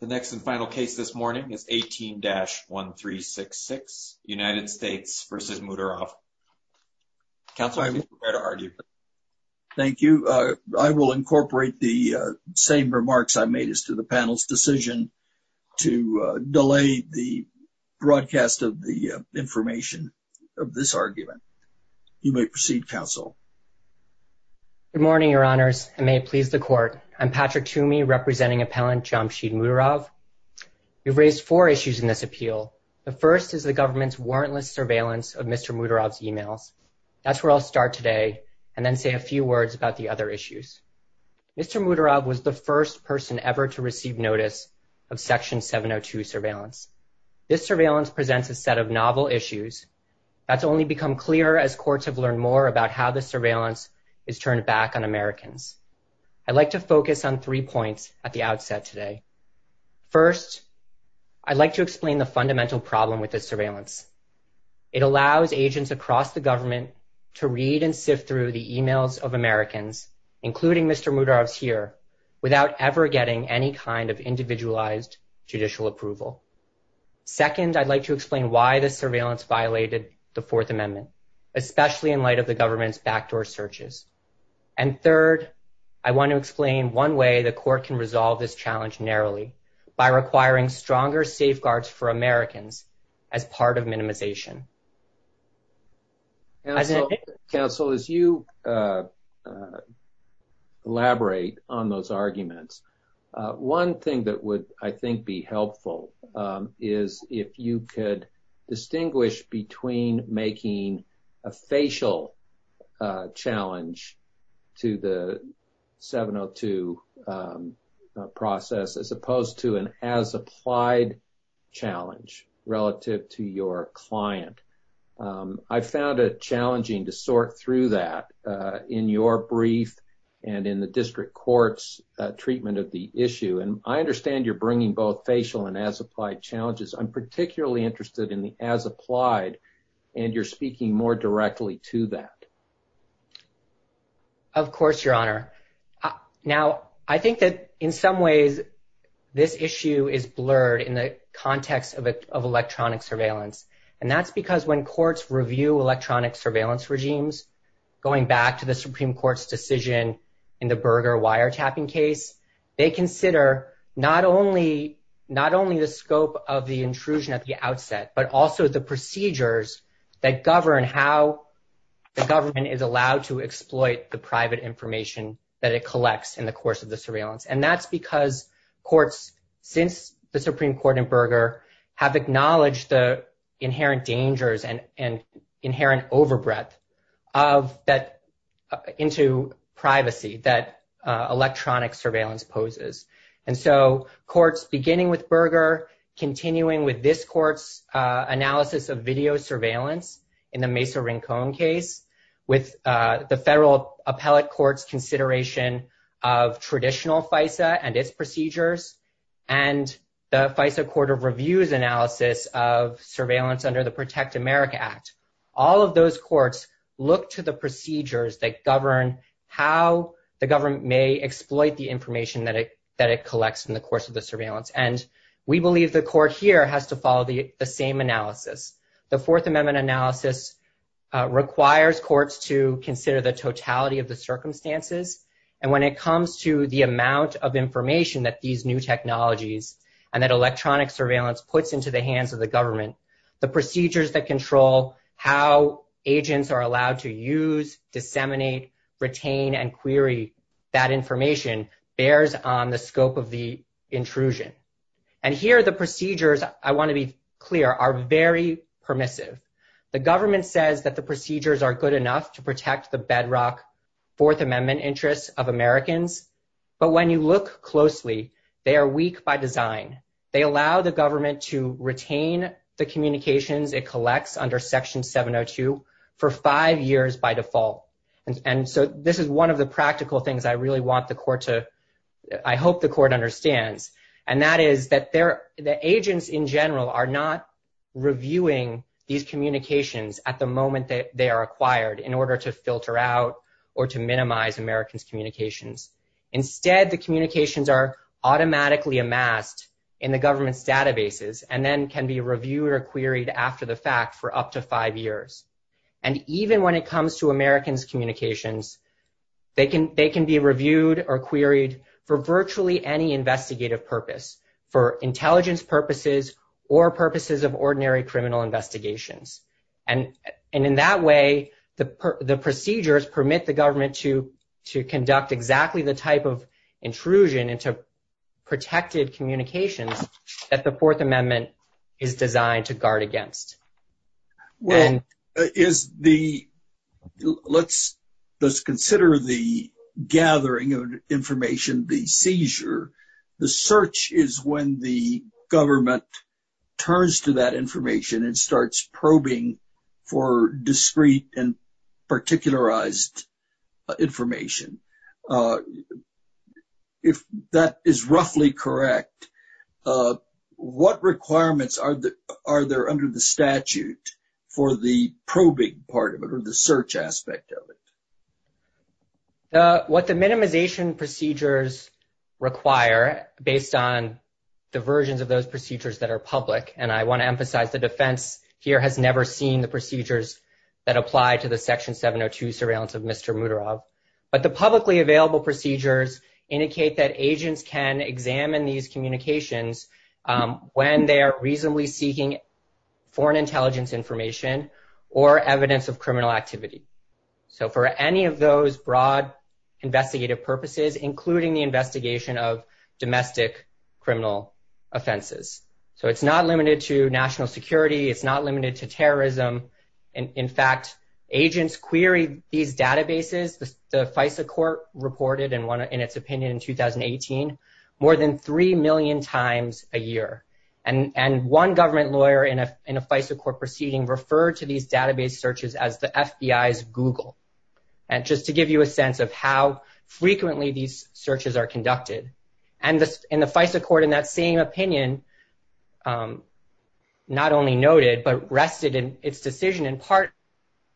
The next and final case this morning is 18-1366, United States v. Muhtorov. Counsel, I would prefer to hear your argument. Thank you. I will incorporate the same remarks I made as to the panel's decision to delay the broadcast of the information of this argument. You may proceed, counsel. Good morning, Your Honors, and may it please the court. I'm Patrick Toomey, representing Appellant Jamshid Muhtorov. We've raised four issues in this appeal. The first is the government's warrantless surveillance of Mr. Muhtorov's email. That's where I'll start today and then say a few words about the other issues. Mr. Muhtorov was the first person ever to receive notice of Section 702 surveillance. This surveillance presents a set of novel issues. That's only become clearer as courts have learned more about how the surveillance is turned back on Americans. I'd like to focus on three points at the outset today. First, I'd like to explain the fundamental problem with this surveillance. It allows agents across the government to read and sift through the emails of Americans, including Mr. Muhtorov here, without ever getting any kind of individualized judicial approval. Second, I'd like to explain why this surveillance violated the Fourth Amendment, especially in light of the government's backdoor searches. And third, I want to explain one way the court can resolve this challenge narrowly, by requiring stronger safeguards for Americans as part of minimization. Counsel, as you elaborate on those arguments, one thing that would, I think, be helpful is if you could distinguish between making a facial challenge to the 702 process as opposed to an as-applied challenge relative to your client. I found it challenging to sort through that in your brief and in the district court's treatment of the issue. And I understand you're bringing both facial and as-applied challenges. I'm particularly interested in the as-applied, and you're speaking more directly to that. Of course, Your Honor. Now, I think that, in some ways, this issue is blurred in the context of electronic surveillance. And that's because when courts review electronic surveillance regimes, going back to the Supreme Court's decision in the Berger wiretapping case, they consider not only the scope of the intrusion at the outset, but also the procedures that govern how the government is allowed to exploit the private information that it collects in the course of the surveillance. And that's because courts, since the Supreme Court in Berger, have acknowledged the inherent dangers and inherent overbreadth into privacy that electronic surveillance poses. And so courts, beginning with Berger, continuing with this court's analysis of video surveillance in the Mesa-Rincon case, with the federal appellate court's consideration of traditional FISA and its procedures, and the FISA Court of Review's analysis of surveillance under the Protect America Act, all of those courts look to the information that it collects in the course of the surveillance. And we believe the court here has to follow the same analysis. The Fourth Amendment analysis requires courts to consider the totality of the circumstances. And when it comes to the amount of information that these new technologies and that electronic surveillance puts into the hands of the government, the procedures that control how agents are allowed to use, disseminate, retain, and query that information bears on the scope of the intrusion. And here, the procedures, I want to be clear, are very permissive. The government says that the procedures are good enough to protect the bedrock Fourth Amendment interests of Americans. But when you look closely, they are weak by design. They allow the government to retain the communications it collects under Section 702 for five years by default. And so, this is one of the practical things I really want the court to, I hope the court understands. And that is that the agents in general are not reviewing these communications at the moment that they are acquired in order to filter out or to minimize Americans' communications. Instead, the communications are automatically amassed in the government's databases and then can be reviewed or queried after the fact for up to five years. And even when it comes to Americans' communications, they can be reviewed or queried for virtually any investigative purpose, for intelligence purposes or purposes of ordinary criminal investigations. And in that way, the procedures permit the government to conduct exactly the type of intrusion into protected communications that the Fourth Amendment is requiring. Let's consider the gathering of information, the seizure. The search is when the government turns to that information and starts probing for discrete and particularized information. If that is roughly correct, what requirements are there under the statute for the probing part of it or the search aspect of it? What the minimization procedures require based on diversions of those procedures that are public, and I want to emphasize the defense here has never seen the procedures that apply to the Section 702 Surveillance of Mr. Muterov. But the publicly available procedures indicate that agents can examine these communications when they are reasonably seeking foreign intelligence information or evidence of criminal activity. So, for any of those broad investigative purposes, including the investigation of domestic criminal offenses. So, it's not limited to national security. It's not limited to terrorism. In fact, agents query these databases. The FISA court reported in its opinion in 2018, more than 3 million times a year. And one government lawyer in a FISA court proceeding referred to these database searches as the FBI's Google. And just to give you a sense of how frequently these searches are conducted. And the FISA court in that same opinion not only noted, but rested in its decision in part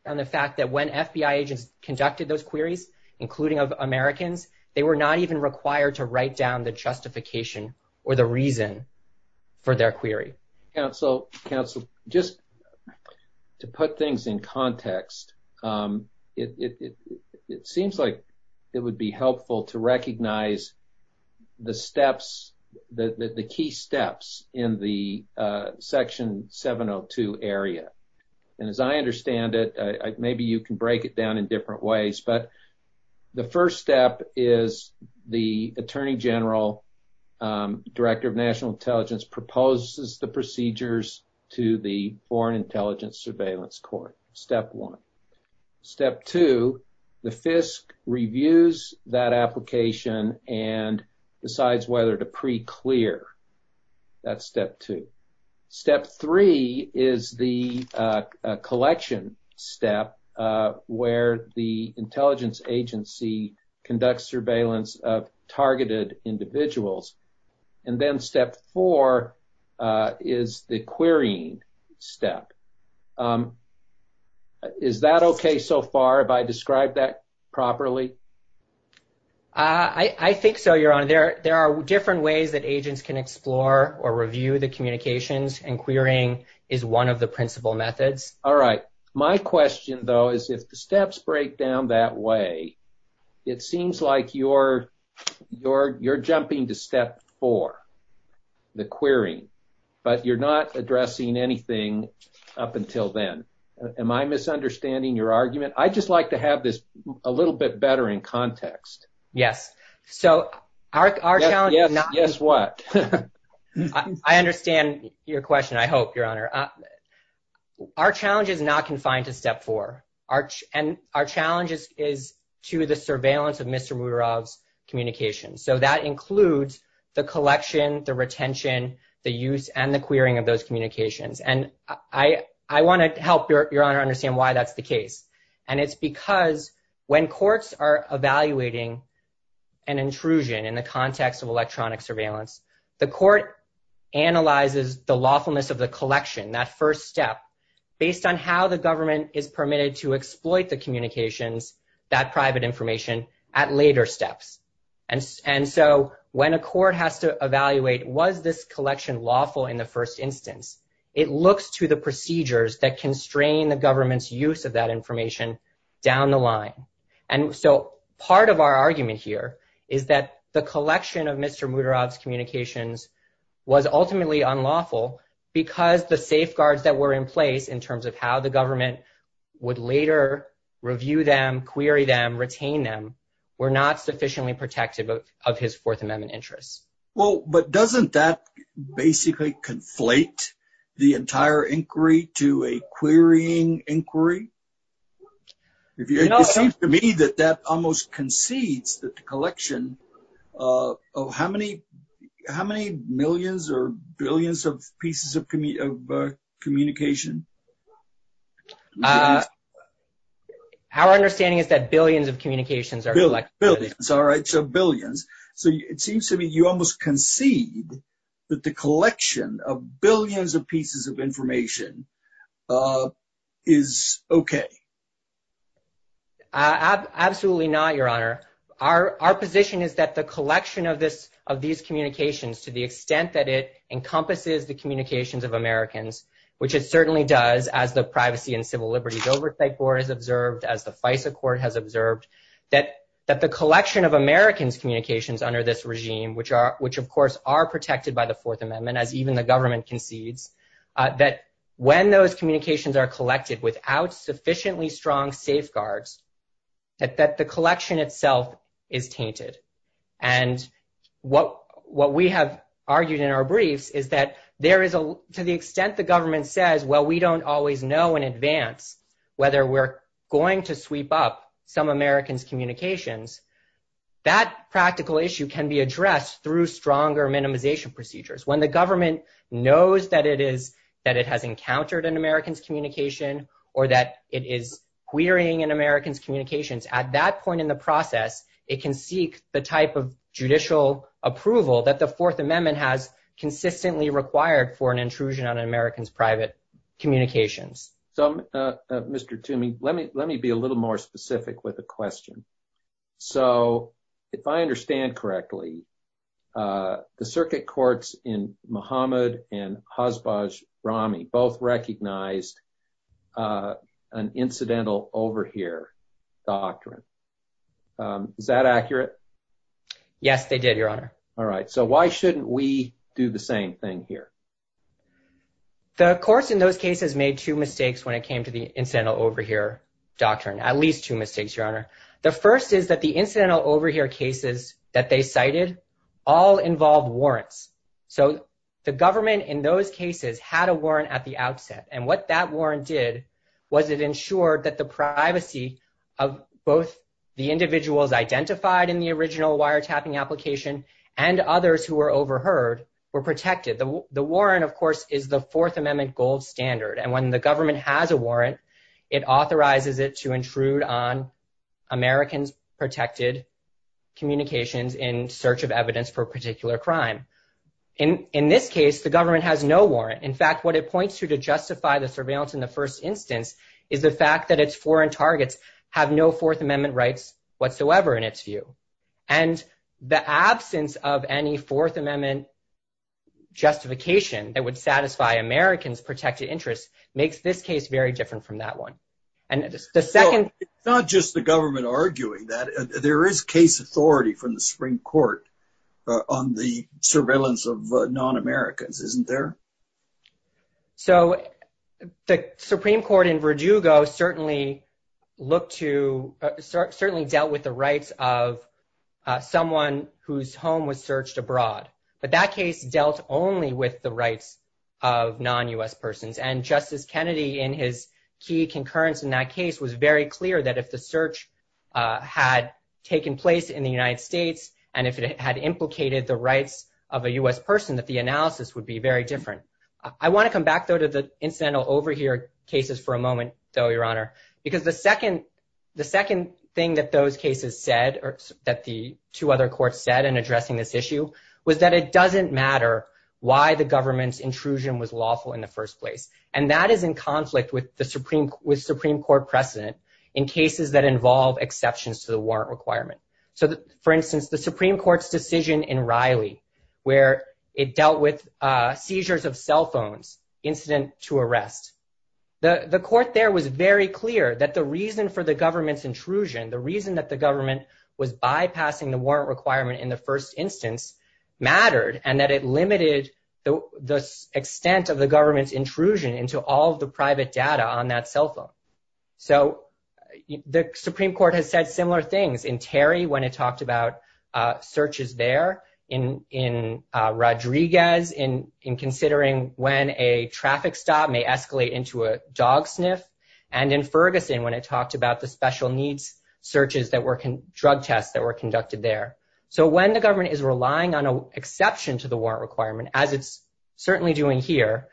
on the fact that when FBI conducted those queries, including of Americans, they were not even required to write down the justification or the reason for their query. Council, just to put things in context, it seems like it would be helpful to recognize the steps, the key steps in the Section 702 area. And as I understand it, maybe you can break it down in different ways. But the first step is the Attorney General, Director of National Intelligence proposes the procedures to the Foreign Intelligence Surveillance Court. Step one. Step two, the FISC reviews that collection step where the intelligence agency conducts surveillance of targeted individuals. And then step four is the querying step. Is that okay so far? Have I described that properly? I think so, Your Honor. There are different ways that agents can explore or review the methods. All right. My question, though, is if the steps break down that way, it seems like you're jumping to step four, the querying, but you're not addressing anything up until then. Am I misunderstanding your argument? I just like to have this a little bit better in context. Yes. So our challenge is not... Our challenge is not confined to step four. And our challenge is to the surveillance of Mr. Mural's communications. So that includes the collection, the retention, the use, and the querying of those communications. And I want to help, Your Honor, understand why that's the case. And it's because when courts are evaluating an intrusion in the context of electronic surveillance, the court analyzes the lawfulness of the collection, that first step, based on how the government is permitted to exploit the communications, that private information, at later steps. And so when a court has to evaluate, was this collection lawful in the first instance, it looks to the procedures that constrain the government's use of that information down the line. And so part of our argument here is that the collection of Mr. Mural's communications was ultimately unlawful because the safeguards that were in place in terms of how the government would later review them, query them, retain them, were not sufficiently protective of his Fourth Amendment interests. Well, but doesn't that basically conflate the entire inquiry to a querying inquiry? It seems to me that that almost concedes that the collection of how many millions or billions of pieces of communication? Our understanding is that billions of communications are collected. Billions. All right. So billions. So it seems to me you almost concede that the collection of billions of pieces of information is okay. Absolutely not, Your Honor. Our position is that the collection of these communications, to the extent that it encompasses the communications of Americans, which it certainly does as the Privacy and Civil Liberties Oversight Board has observed, as the FISA Court has observed, that the collection of Americans' communications under this regime, which, of course, are protected by the Fourth Amendment, as even the government concedes, that when those communications are collected without sufficiently strong safeguards, that the collection itself is tainted. And what we have argued in our brief is that to the extent the government says, well, we don't always know in advance whether we're going to sweep up some address through stronger minimization procedures, when the government knows that it has encountered an American's communication or that it is querying an American's communications, at that point in the process, it can seek the type of judicial approval that the Fourth Amendment has consistently required for an intrusion on an American's private communications. So, Mr. Toomey, let me be a little bit more specific. The Circuit Courts in Mohammed and Hazbaz Rami both recognized an incidental overhear doctrine. Is that accurate? Yes, they did, Your Honor. All right. So why shouldn't we do the same thing here? The courts in those cases made two mistakes when it came to the incidental overhear doctrine, at least two mistakes, Your Honor. The first is that the all involved warrants. So the government in those cases had a warrant at the outset, and what that warrant did was it ensured that the privacy of both the individuals identified in the original wiretapping application and others who were overheard were protected. The warrant, of course, is the Fourth Amendment gold standard. And when the government has a warrant, it authorizes it to intrude on Americans' protected communications in search of evidence for a particular crime. In this case, the government has no warrant. In fact, what it points to to justify the surveillance in the first instance is the fact that its foreign targets have no Fourth Amendment rights whatsoever in its view. And the absence of any Fourth Amendment justification that would satisfy Americans' protected interests makes this case very different from that one. It's not just the government arguing that. There is case authority from the Supreme Court on the surveillance of non-Americans, isn't there? So the Supreme Court in Virdugo certainly dealt with the rights of someone whose home was searched abroad, but that case dealt only with the rights of non-U.S. persons. And Justice Kennedy in his concurrence in that case was very clear that if the search had taken place in the United States and if it had implicated the rights of a U.S. person, that the analysis would be very different. I want to come back, though, to the incidental overheard cases for a moment, though, Your Honor, because the second thing that those cases said or that the two other courts said in addressing this issue was that it doesn't matter why the government's intrusion was lawful in the first place. And that is in conflict with Supreme Court precedent in cases that involve exceptions to the warrant requirement. So, for instance, the Supreme Court's decision in Riley where it dealt with seizures of cell phones, incident to arrest. The court there was very clear that the reason for the government's intrusion, the reason that the government was bypassing the warrant requirement in the first instance mattered and that it limited the extent of the government's intrusion into all of the private data on that cell phone. So the Supreme Court has said similar things in Terry when it talked about searches there, in Rodriguez in considering when a traffic stop may escalate into a dog sniff, and in Ferguson when it talked about the special needs searches that were drug tests that were conducted there. So when the government is relying on an exception to the warrant requirement, as it's certainly doing here,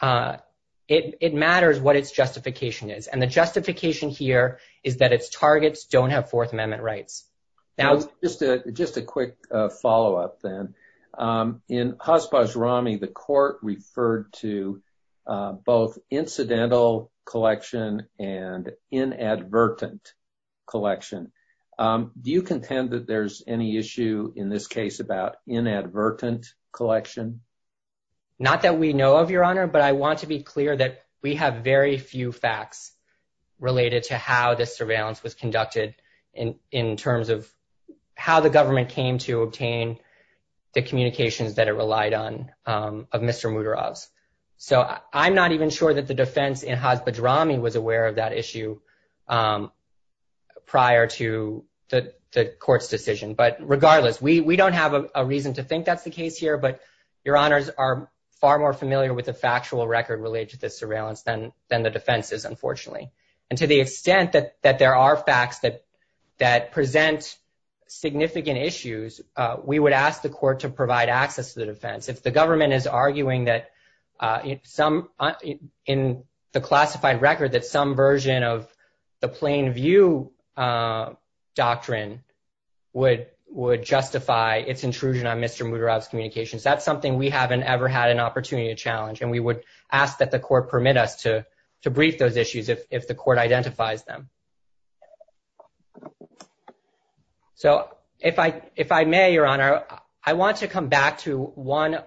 it matters what its justification is. And the justification here is that its targets don't have Fourth Amendment rights. Now, just a quick follow-up, then. In Hospash Rami, the court referred to both incidental collection and inadvertent collection. Do you contend that there's any issue in this case about inadvertent collection? Not that we know of, Your Honor, but I want to be clear that we have very few facts related to how the surveillance was conducted in terms of how the government came to obtain the communications that it relied on of Mr. Muderov. So I'm not even sure that the defense in Hospash Rami was aware of that issue prior to the court's decision. But regardless, we don't have a reason to think that's the case here, but Your Honors are far more familiar with the factual record related to the surveillance than the defenses, unfortunately. And to the extent that there are facts that present significant issues, we would ask the court to provide access to the defense. If the government is arguing that in the classified record that some version of the plain view doctrine would justify its intrusion on Mr. Muderov's communications, that's something we haven't ever had an opportunity to challenge. And we would ask that the court permit us to brief those issues if the court identifies them. So if I may, Your Honor, I want to come back to one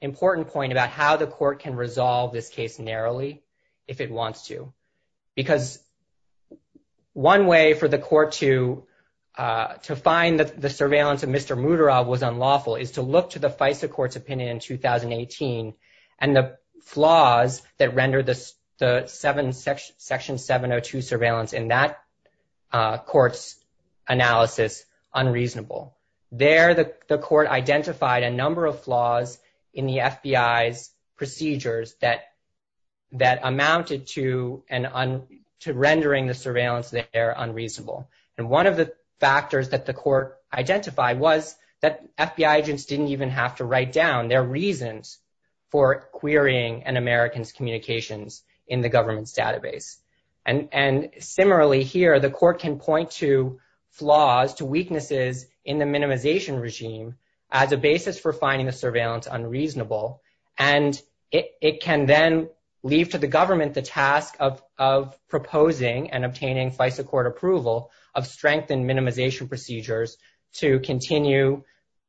important point about how the court can resolve this case narrowly if it wants to. Because one way for the court to find that the surveillance of Mr. Muderov was unlawful is to look to the FISA court's opinion in 2018 and the flaws that rendered the section 702 surveillance in that court's analysis unreasonable. There, the court identified a number of flaws in the FBI's procedures that amounted to rendering the surveillance there unreasonable. And one of the factors that the court identified was the lack of reasons for querying an American's communications in the government's database. And similarly here, the court can point to flaws, to weaknesses in the minimization regime as a basis for finding the surveillance unreasonable. And it can then leave to the government the task of proposing and obtaining FISA court approval of strengthened minimization procedures to continue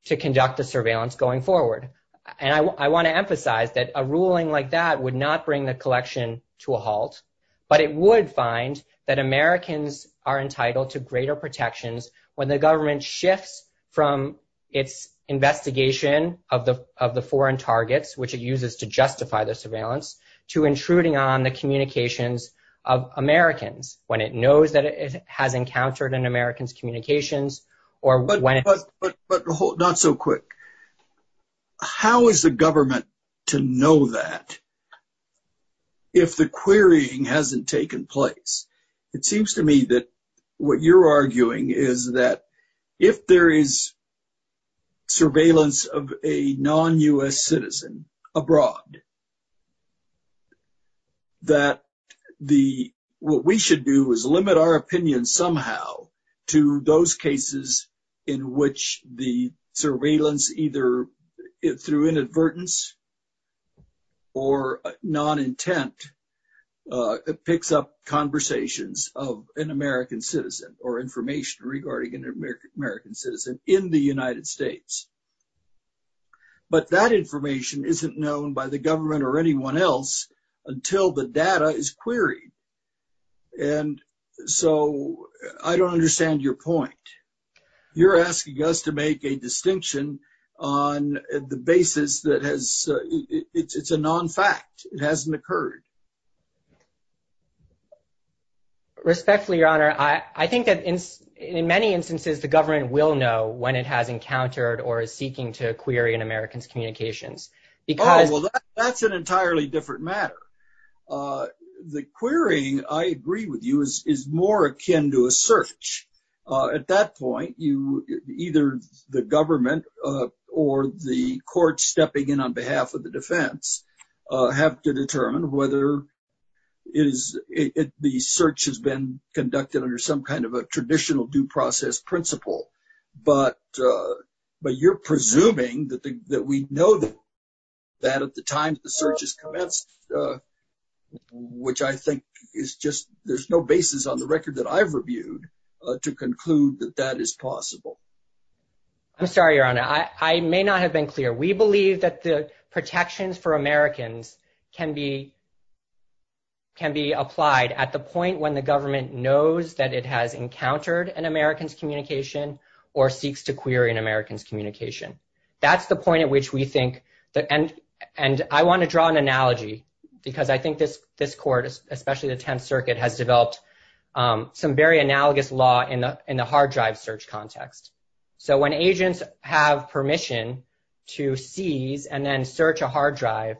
to conduct the surveillance going forward. And I want to emphasize that a ruling like that would not bring the collection to a halt, but it would find that Americans are entitled to greater protections when the government shifts from its investigation of the foreign targets, which it uses to justify the surveillance, to intruding on the communications of Americans, when it knows that it has encountered an American's communications, or when... But not so quick. How is the government to know that if the querying hasn't taken place? It seems to me that what you're arguing is that if there is surveillance of a non-US citizen abroad, that what we should do is limit our opinion somehow to those cases in which the surveillance either through inadvertence or non-intent picks up conversations of an American citizen or information regarding an American citizen in the United States. But that information isn't known by the government or anyone else until the data is queried. And so I don't understand your point. You're asking us to make a distinction on the basis that it's a non-fact. It hasn't occurred. Respectfully, Your Honor, I think that in many instances, the government will know when it has encountered or is seeking to query an American's communications. Well, that's an entirely different matter. The querying, I agree with you, is more akin to a search. At that point, either the government or the court stepping in on behalf of the defense have to determine whether the search has been conducted under some kind of a non-US principle. But you're presuming that we know that at the time the search has commenced, which I think is just, there's no basis on the record that I've reviewed to conclude that that is possible. I'm sorry, Your Honor. I may not have been clear. We believe that the protections for Americans can be applied at the point when the government knows that it has or seeks to query an American's communication. That's the point at which we think, and I want to draw an analogy, because I think this court, especially the Tenth Circuit, has developed some very analogous law in the hard drive search context. So when agents have permission to seize and then search a hard drive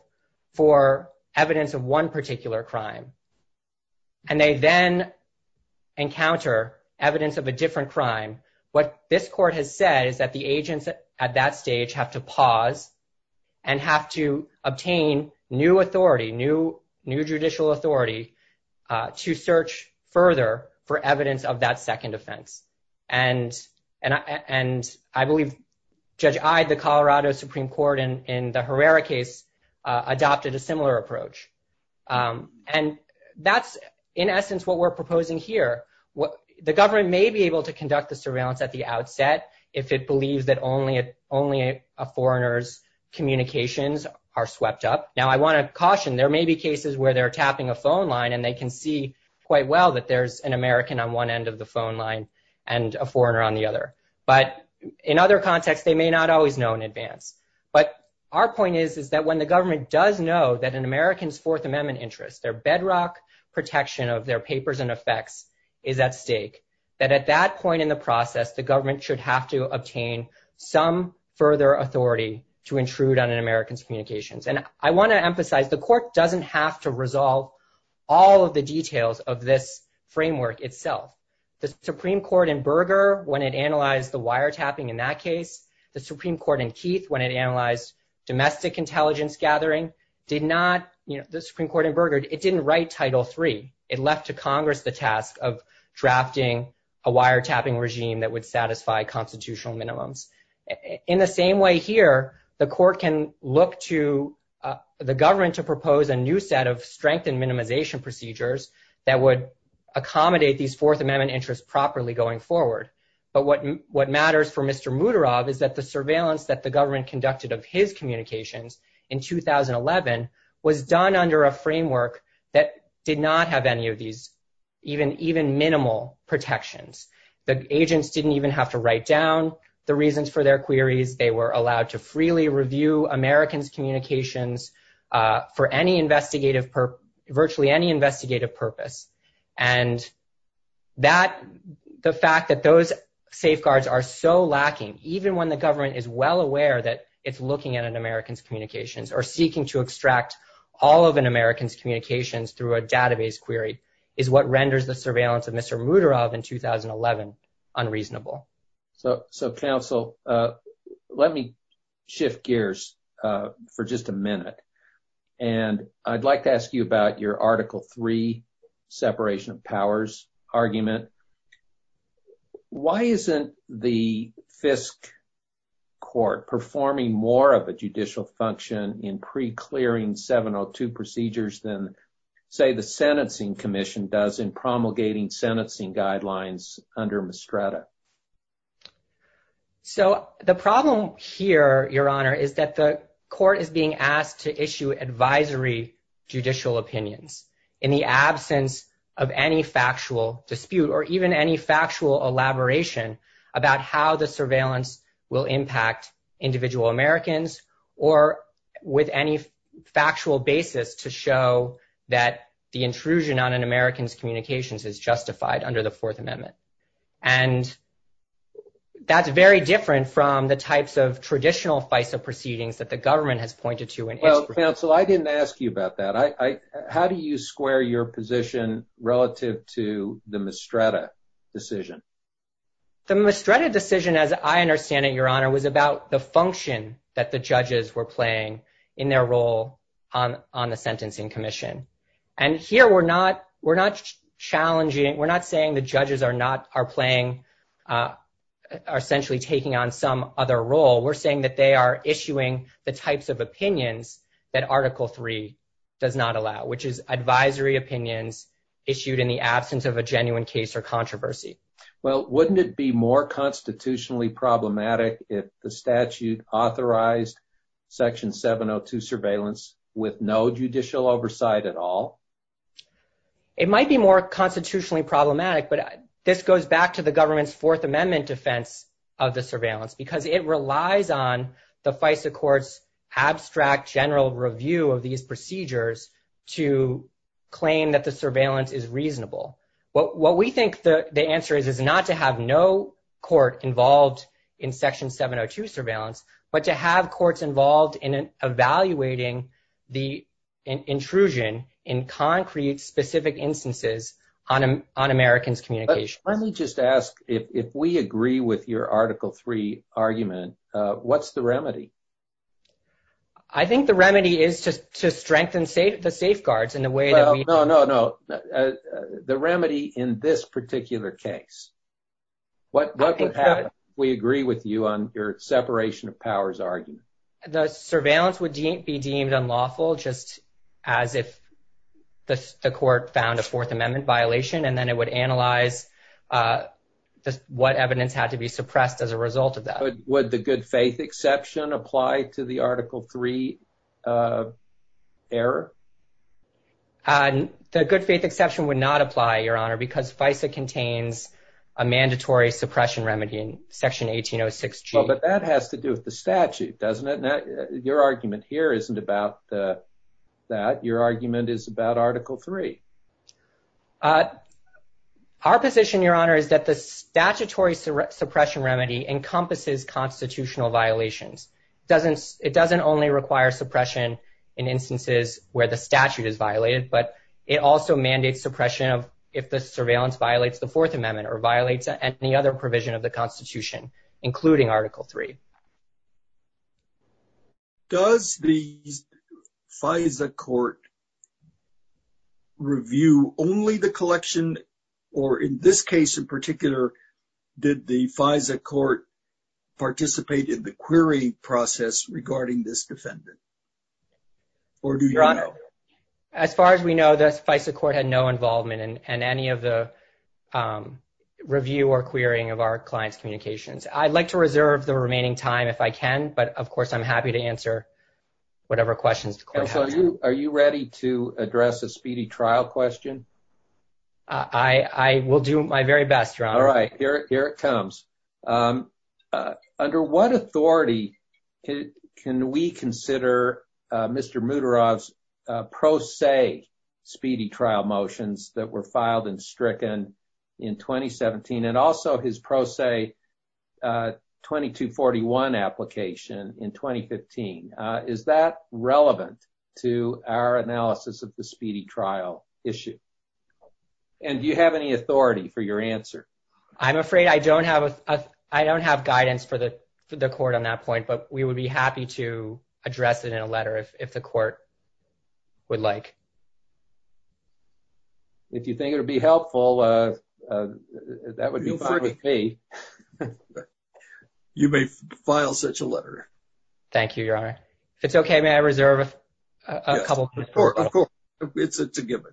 for evidence of one particular crime, and they then encounter evidence of a different crime, what this court has said is that the agents at that stage have to pause and have to obtain new authority, new judicial authority, to search further for evidence of that second offense. And I believe Judge I, the Colorado Supreme Court, in the Herrera case, adopted a similar approach. And that's in essence what we're proposing here. The government may be able to conduct the surveillance at the outset if it believes that only a foreigner's communications are swept up. Now, I want to caution. There may be cases where they're tapping a phone line, and they can see quite well that there's an American on one end of the phone line and a foreigner on the other. But in other contexts, they may not always know in advance. But our point is that when the government does know that an American's Fourth Amendment interest, their bedrock protection of their papers and effects, is at stake, that at that point in the process, the government should have to obtain some further authority to intrude on an American's communications. And I want to emphasize the court doesn't have to resolve all of the details of this framework itself. The Supreme Court in Berger, when it analyzed the wiretapping in that case, the Supreme Court in Keith, when it analyzed domestic intelligence gathering, did not, you know, the Supreme Court in Berger, it didn't write Title III. It left to Congress the task of drafting a wiretapping regime that would satisfy constitutional minimums. In the same way here, the court can look to the government to propose a new set of strengthened minimization procedures that would accommodate these Fourth Amendment interests properly going forward. But what matters for Mr. Muterov is that the surveillance that the government conducted of his communications in 2011 was done under a framework that did not have any of these even minimal protections. The agents didn't even have to write down the reasons for their queries. They were allowed to freely review American's communications for virtually any investigative purpose. And the fact that those safeguards are so lacking, even when the government is well aware that it's looking at an American's communications, or seeking to extract all of an American's communications through a database query, is what renders the surveillance of Mr. Muterov in 2011 unreasonable. So, counsel, let me shift gears for just a minute. And I'd like to ask you about your Article III separation of powers argument. Why isn't the Fisk Court performing more of a judicial function in pre-clearing 702 procedures than, say, the Sentencing Commission does in promulgating sentencing guidelines under MISTRATA? So, the problem here, Your Honor, is that the court is being asked to issue advisory judicial opinions in the absence of any factual dispute, or even any factual elaboration about how the surveillance will impact individual Americans, or with any factual basis to show that the intrusion on an American's communications is justified under the Fourth Amendment. And that's very different from the types of traditional FISA proceedings that the government has pointed to in any procedure. Well, counsel, I didn't ask you about that. How do you square your position relative to the MISTRATA decision? The MISTRATA decision, as I understand it, Your Honor, was about the function that the judges were playing in their role on the Sentencing Commission. And here, we're not challenging, we're not saying the judges are not, are playing, are essentially taking on some other role. We're saying that they are issuing the types of opinions that Article III does not allow, which is advisory opinions issued in the absence of a genuine case or controversy. Well, wouldn't it be more constitutionally problematic if the statute authorized Section 702 surveillance with no judicial oversight at all? It might be more constitutionally problematic, but this goes back to the government's Fourth Amendment defense of the surveillance, because it relies on the is reasonable. What we think the answer is, is not to have no court involved in Section 702 surveillance, but to have courts involved in evaluating the intrusion in concrete, specific instances on Americans' communication. Let me just ask, if we agree with your Article III argument, what's the remedy? I think the remedy is to strengthen the safeguards in the way that we... No, no, no. The remedy in this particular case, what would happen if we agree with you on your separation of powers argument? The surveillance would be deemed unlawful just as if the court found a Fourth Amendment violation, and then it would analyze what evidence had to be suppressed as a result of that. Would the good faith exception apply to the Article III error? The good faith exception would not apply, Your Honor, because FISA contains a mandatory suppression remedy in Section 1806G. Oh, but that has to do with the statute, doesn't it? Your argument here isn't about that. Your argument is about Article III. Our position, Your Honor, is that the statutory suppression remedy encompasses constitutional violations. It doesn't only require suppression in instances where the statute is violated, but it also mandates suppression if the surveillance violates the Fourth Amendment or violates any other provision of the Constitution, including Article III. Does the FISA court review only the collection, or in this case in particular, did the FISA court participate in the querying process regarding this defendant? Your Honor, as far as we know, the FISA court had no involvement in any of the review or querying of our client's communications. I'd like to reserve the remaining time if I can, but of course I'm happy to answer whatever questions the court has. Are you ready to address a speedy trial question? I will do my very best, Your Honor. All right, here it comes. Under what authority can we consider Mr. Muterov's pro se speedy trial motions that were filed and stricken in 2017 and also his pro se 2241 application in 2015? Is that relevant to our analysis of the speedy trial issue? And do you have any authority for your answer? I'm afraid I don't have guidance for the court on that point, but we would be happy to address it in a letter if the court would like. If you think it would be helpful, that would be fine with me. You may file such a letter. Thank you, Your Honor. If it's okay, may I reserve a couple of minutes? Of course, it's a given.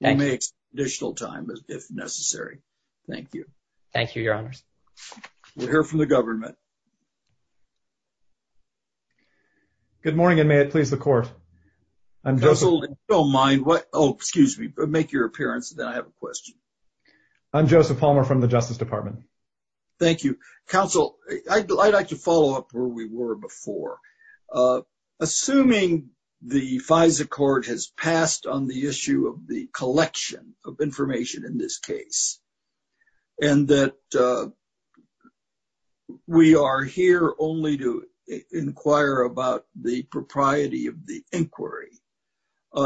You may have additional time if necessary. Thank you. Thank you, Your Honor. We'll hear from the government. Good morning, and may it please the court. I'm Joseph Palmer from the Justice Department. Thank you. Counsel, I'd like to follow up where we were before. Assuming the FISA court has passed on the issue of the collection of information in this case, and that we are here only to inquire about the propriety of the inquiry,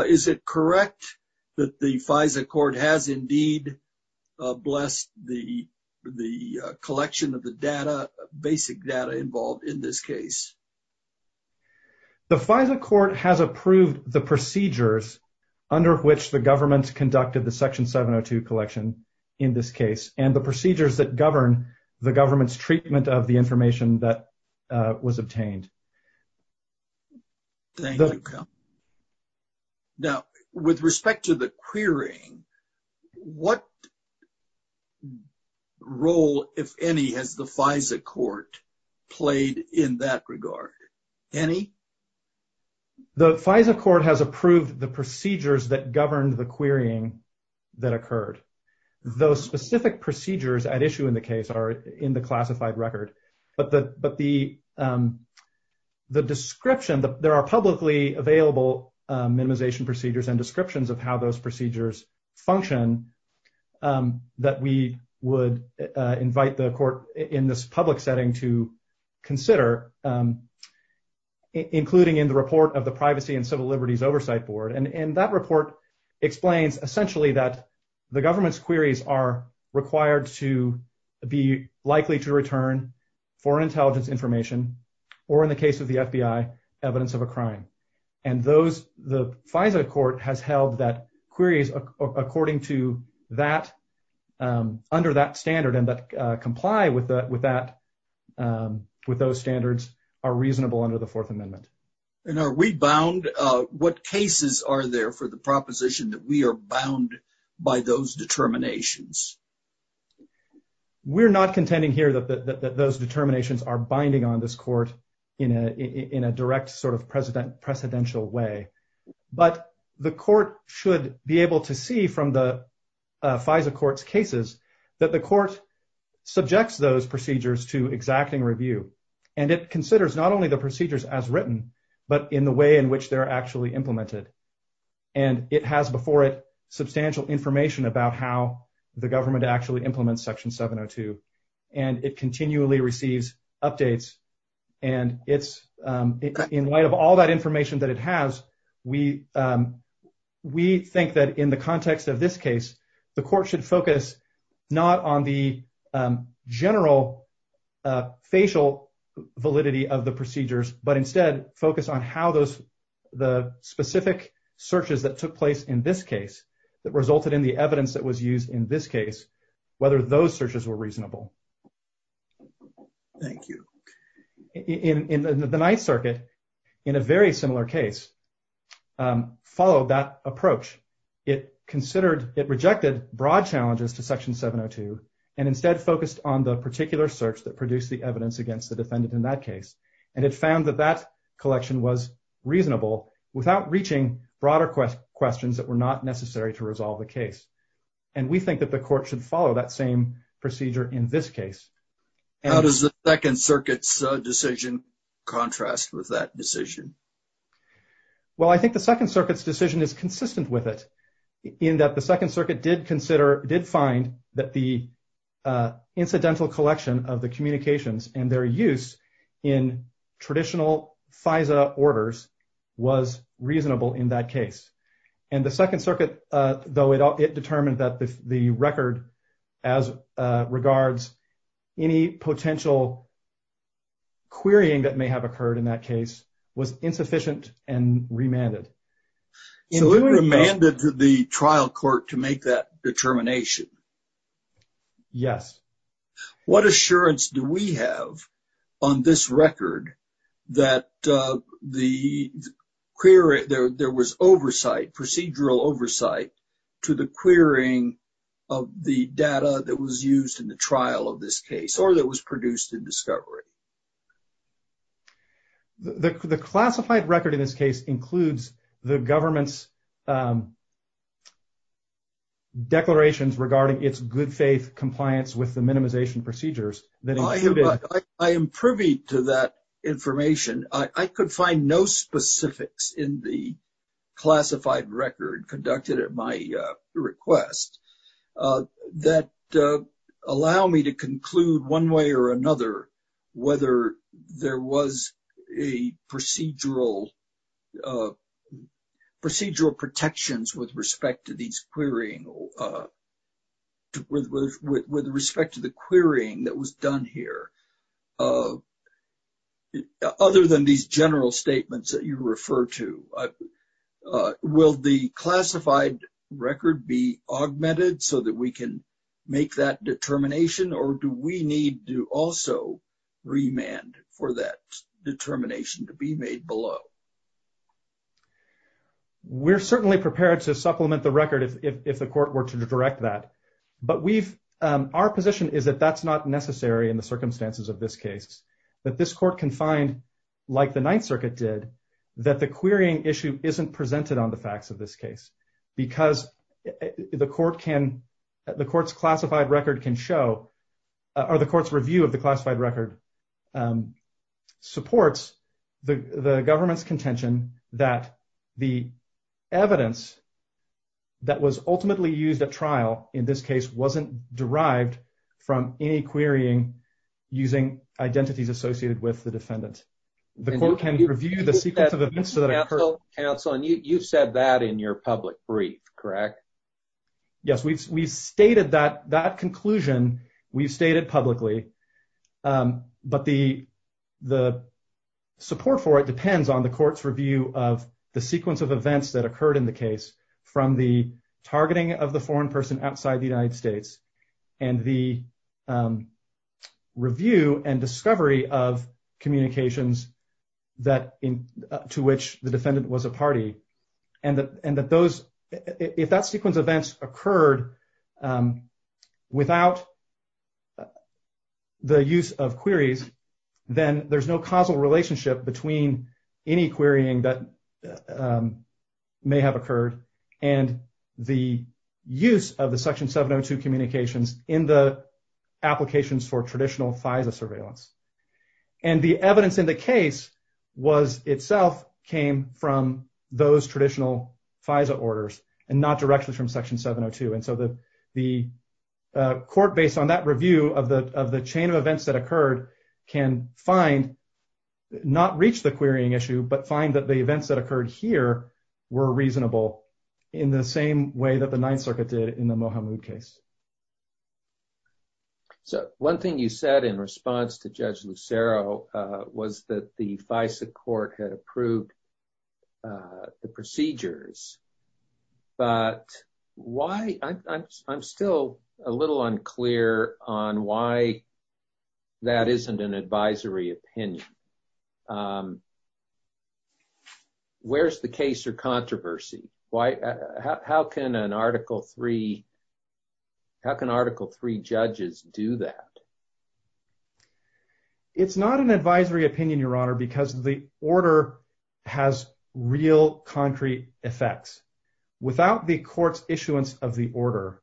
is it correct that the FISA court has indeed blessed the collection of the data, basic data involved in this case? The FISA court has approved the procedures under which the government conducted the Section 702 collection in this case, and the procedures that govern the government's treatment of the information that was obtained. Thank you. Now, with respect to the querying, what role, if any, has the FISA court played in that regard? Any? The FISA court has approved the procedures that governed the querying that occurred. Those specific procedures at issue in the case are in the classified record, but the description, there are publicly available minimization procedures and descriptions of how those procedures function that we would invite the court in this public setting to consider, including in the report of the Privacy and Civil Liberties Oversight Board. And that report explains essentially that the government's queries are required to be likely to return foreign intelligence information, or in the case of the FBI, evidence of a crime. And those, the FISA court has held that queries according to that, under that standard and that comply with that, with those standards are reasonable under the Fourth Amendment. And are we bound, what cases are there for the proposition that we are bound by those determinations? We're not contending here that those precedential way, but the court should be able to see from the FISA court's cases that the court subjects those procedures to exacting review. And it considers not only the procedures as written, but in the way in which they're actually implemented. And it has before it substantial information about how the government actually implements Section 702. And it continually receives updates. And it's in light of all that information that it has, we think that in the context of this case, the court should focus not on the general facial validity of the procedures, but instead focus on how those, the specific searches that took place in this case, that resulted in the evidence that was used in this case, whether those searches were reasonable. Thank you. In the Ninth Circuit, in a very similar case, followed that approach. It considered, it rejected broad challenges to Section 702 and instead focused on the particular search that produced the evidence against the defendant in that case. And it found that that collection was reasonable without reaching broader questions that were not necessary to resolve the case. And we think that the court should follow that same procedure in this case. How does the Second Circuit's decision contrast with that decision? Well, I think the Second Circuit's decision is consistent with it in that the Second Circuit did consider, did find that the incidental collection of the communications and their use in traditional FISA orders was reasonable in that case. And the Second Circuit, though it determined that the record as regards any potential querying that may have occurred in that case was insufficient and remanded. So it was remanded to the trial court to make that determination? Yes. What assurance do we have on this record that the query, there was oversight, procedural oversight to the querying of the data that was used in the trial of this case, or that was produced in discovery? The classified record in this case includes the government's declarations regarding its good faith compliance with the minimization procedures. I am privy to that information. I could find no specifics in the classified record conducted at my request that allow me to conclude one way or another whether there was a procedural or procedural protections with respect to these querying, with respect to the querying that was done here. Other than these general statements that you refer to, will the classified record be augmented so that we can make that determination? Or do we need to also remand for that determination to be made below? We're certainly prepared to supplement the record if the court were to direct that. But our position is that that's not necessary in the circumstances of this case, that this court can find, like the Ninth Circuit did, that the querying issue isn't presented on the facts of this case. Because the court's classified record can show, or the court's review of the classified record supports the government's contention that the evidence that was ultimately used at trial in this case wasn't derived from any querying using identities associated with the defendant. The court can review the sequence of events that occurred. Counsel, you said that in your public brief, correct? Yes, we've stated that conclusion. We've stated publicly. But the support for it depends on the court's review of the sequence of events that occurred in the case, from the targeting of the foreign person outside the United States, and the review and discovery of communications that, to which the defendant was a party. And that those, if that sequence of events occurred without the use of queries, then there's no causal relationship between any querying that may have occurred and the use of the Section 702 communications in the applications for was itself came from those traditional FISA orders, and not directly from Section 702. And so the court, based on that review of the chain of events that occurred, can find, not reach the querying issue, but find that the events that occurred here were reasonable in the same way that the Ninth Circuit did in the Mohamud case. So, one thing you said in response to Judge Lucero was that the FISA court had approved the procedures. But why? I'm still a little unclear on why that isn't an advisory opinion. Where's the case or controversy? How can an Article III How can Article III judges do that? It's not an advisory opinion, Your Honor, because the order has real concrete effects. Without the court's issuance of the order,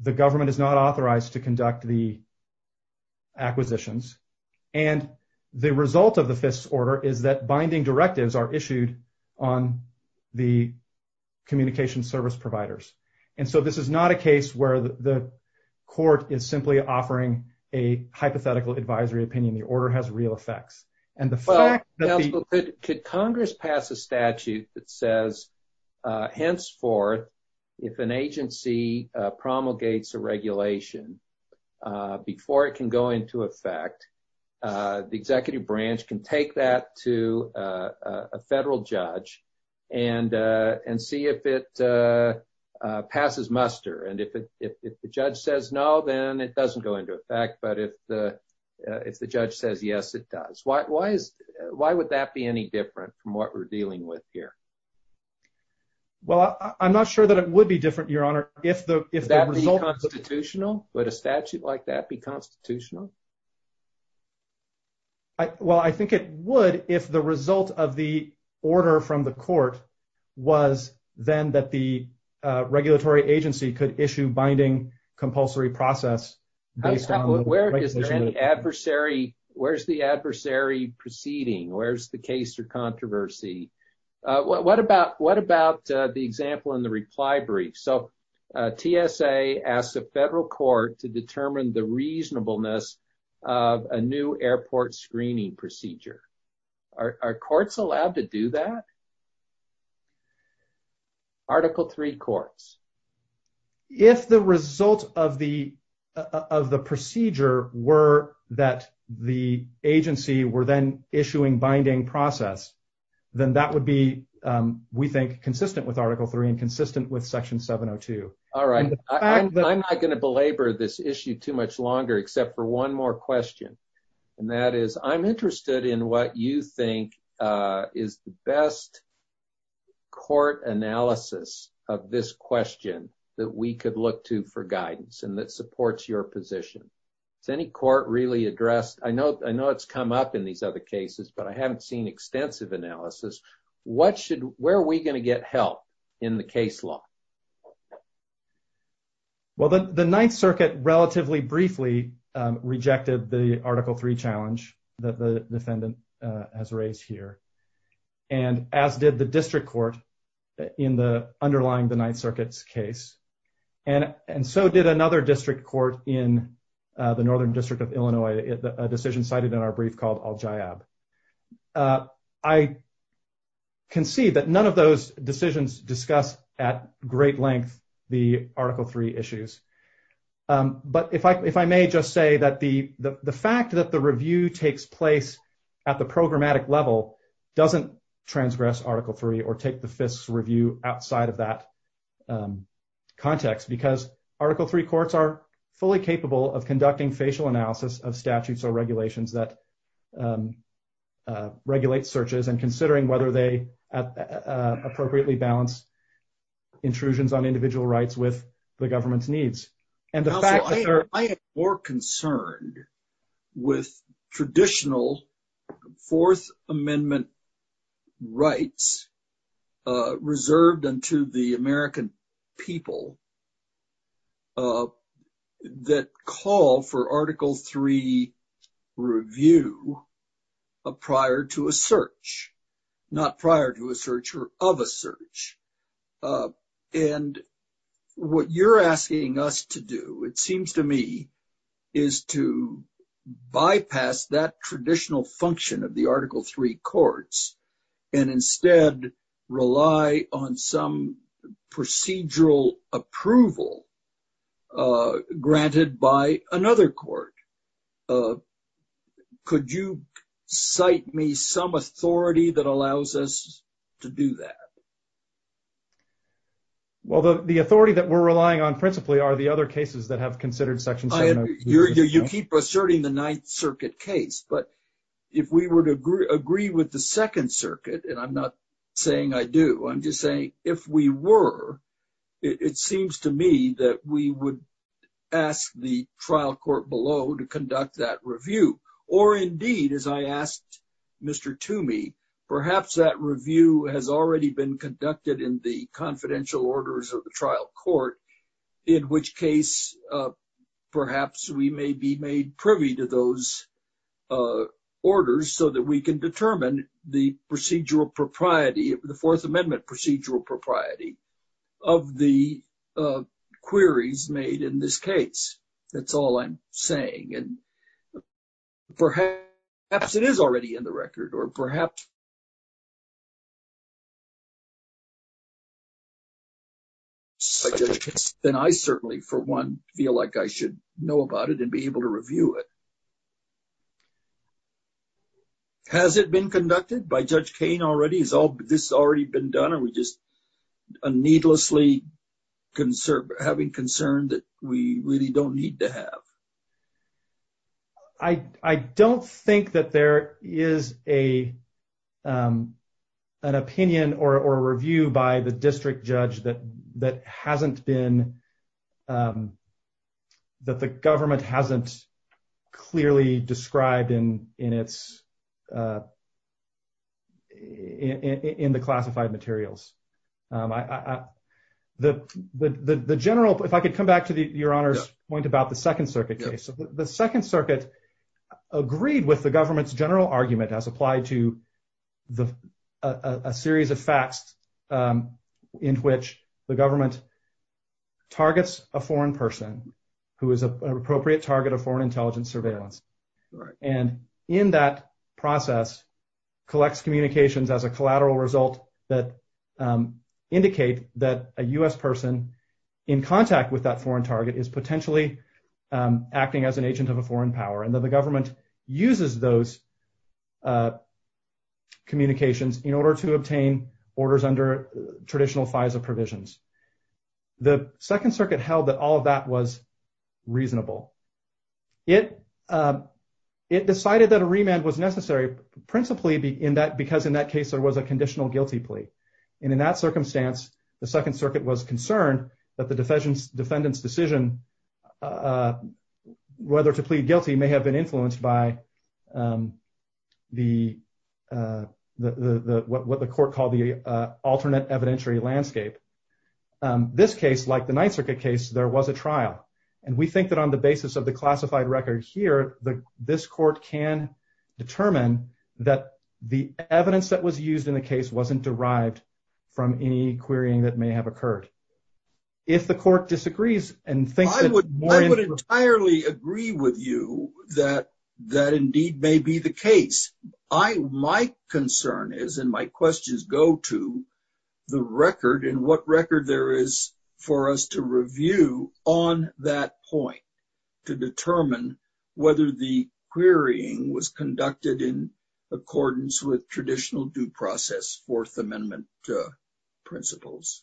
the government is not authorized to conduct the acquisitions. And the result of the FISA order is that binding directives are issued on the communication service providers. And so this is not a case where the court is simply offering a hypothetical advisory opinion. The order has real effects. Could Congress pass a statute that says, henceforth, if an agency promulgates a regulation before it can go into effect, the executive branch can take that to a federal judge and see if it passes muster. And if the judge says no, then it doesn't go into effect. But if the judge says yes, it does. Why would that be any different from what we're dealing with here? Well, I'm not sure that it would be different, Your Honor. Would that be constitutional? Would a statute like that be constitutional? Well, I think it would if the result of the order from the court was then that the regulatory agency could issue binding compulsory process. Where's the adversary proceeding? Where's the case of controversy? What about the example in the reply brief? So TSA asked the federal court to determine the reasonableness of a new airport screening procedure. Are courts allowed to do that? Article III courts. If the result of the procedure were that the agency were then issuing binding process, then that would be, we think, consistent with Article III and consistent with Section 702. All right. I'm not going to belabor this issue too much longer except for one more question. And that is, I'm interested in what you think is the best court analysis of this question that we could look to for guidance and that supports your position. Has any court really I haven't seen extensive analysis. Where are we going to get help in the case law? Well, the Ninth Circuit relatively briefly rejected the Article III challenge that the defendant has raised here. And as did the district court in the underlying the Ninth Circuit's case. And so did another district court in the Northern District of Illinois, a decision cited in our brief called Al-Jayab. I can see that none of those decisions discuss at great length the Article III issues. But if I may just say that the fact that the review takes place at the programmatic level doesn't transgress Article III or take the FISC's review outside of that context because Article III courts are fully capable of conducting facial analysis of statutes or regulations that regulate searches and considering whether they appropriately balance intrusions on individual rights with the government's needs. And the fact that there I am more concerned with traditional Fourth Amendment rights reserved unto the American people that call for Article III review prior to a search, not prior to a search or of a search. And what you're asking us to do, it seems to me, is to bypass that traditional function of the procedural approval granted by another court. Could you cite me some authority that allows us to do that? Well, the authority that we're relying on principally are the other cases that have considered Section 703. You keep asserting the Ninth Circuit case, but if we were to agree with the Second Circuit, and I'm not saying I do, I'm just saying if we were it seems to me that we would ask the trial court below to conduct that review. Or indeed, as I asked Mr. Toomey, perhaps that review has already been conducted in the confidential orders of the trial court, in which case perhaps we may be made privy to those orders so that we can determine the procedural propriety, the Fourth Amendment procedural propriety of the queries made in this case. That's all I'm saying. And perhaps it is already in the record, or perhaps then I certainly, for one, feel like I should know about it and be able to review it. Has it been conducted by Judge Kane already? This has already been done and we're just needlessly having concern that we really don't need to have. I don't think that there is an opinion or a review by the district judge that hasn't been, that the government hasn't clearly described in the classified materials. If I could come back to Your Honor's point about the Second Circuit case. The Second Circuit agreed with the government's general argument as applied to a series of facts in which the targets a foreign person who is an appropriate target of foreign intelligence surveillance. And in that process collects communications as a collateral result that indicate that a U.S. person in contact with that foreign target is potentially acting as an agent of a foreign power and that the government uses those communications in order to obtain orders under traditional FISA provisions. The Second Circuit held that all of that was reasonable. It decided that a remand was necessary principally because in that case there was a conditional guilty plea. And in that circumstance, the Second Circuit was concerned that the defendant's decision whether to plead guilty may have been influenced by what the court called the alternate evidentiary landscape. This case, like the Ninth Circuit case, there was a trial. And we think that on the basis of the classified records here, this court can determine that the evidence that was used in the case wasn't derived from any querying that may have occurred. If the court disagrees and thinks that... I would entirely agree with you that indeed may be the case. My concern is, and my questions go to, the record and what record there is for us to review on that point to determine whether the querying was conducted in accordance with traditional due process Fourth Amendment principles.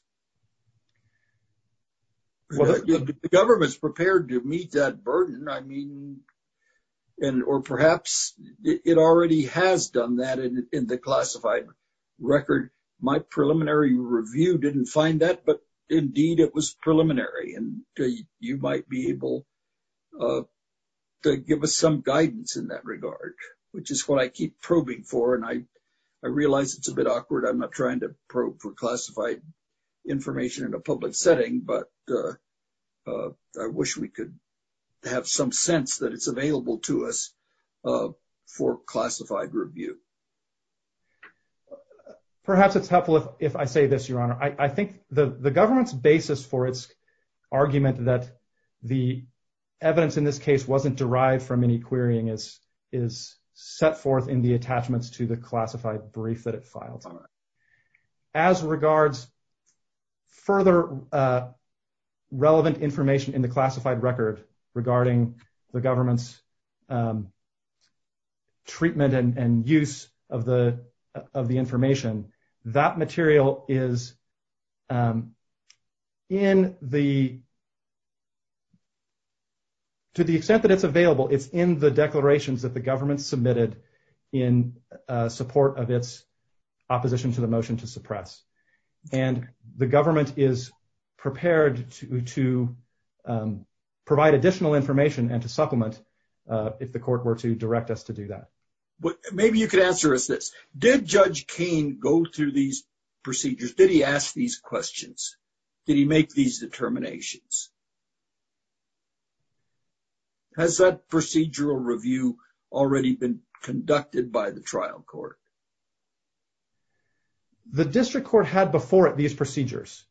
The government's prepared to meet that burden. Or perhaps it already has done that in the classified record. My preliminary review didn't find that, but indeed it was preliminary. And you might be able to give us some guidance in that regard, which is what I keep probing for. And I realize it's a bit awkward. I'm not trying to probe for classified information in a public setting, but I wish we could have some sense that it's available to us for classified review. Perhaps it's helpful if I say this, Your Honor. I think the government's basis for its argument that the evidence in this case wasn't derived from any querying is set forth in the relevant information in the classified record regarding the government's treatment and use of the information. That material is to the extent that it's available, it's in the declarations that the government submitted in support of its opposition to the to provide additional information and to supplement if the court were to direct us to do that. Maybe you could answer us this. Did Judge Kane go through these procedures? Did he ask these questions? Did he make these determinations? Has that procedural review already been conducted by the trial court? The district court had before it these procedures,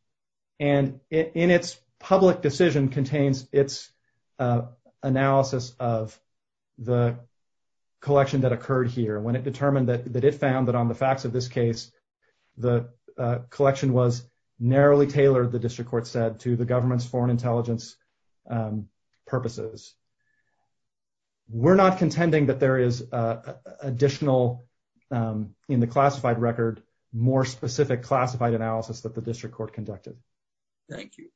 and in its public decision contains its analysis of the collection that occurred here. When it determined that it found that on the facts of this case, the collection was narrowly tailored, the district court said, to the government's foreign intelligence purposes. We're not contending that there is additional in the classified record, more specific classified analysis that the district court conducted. Thank you.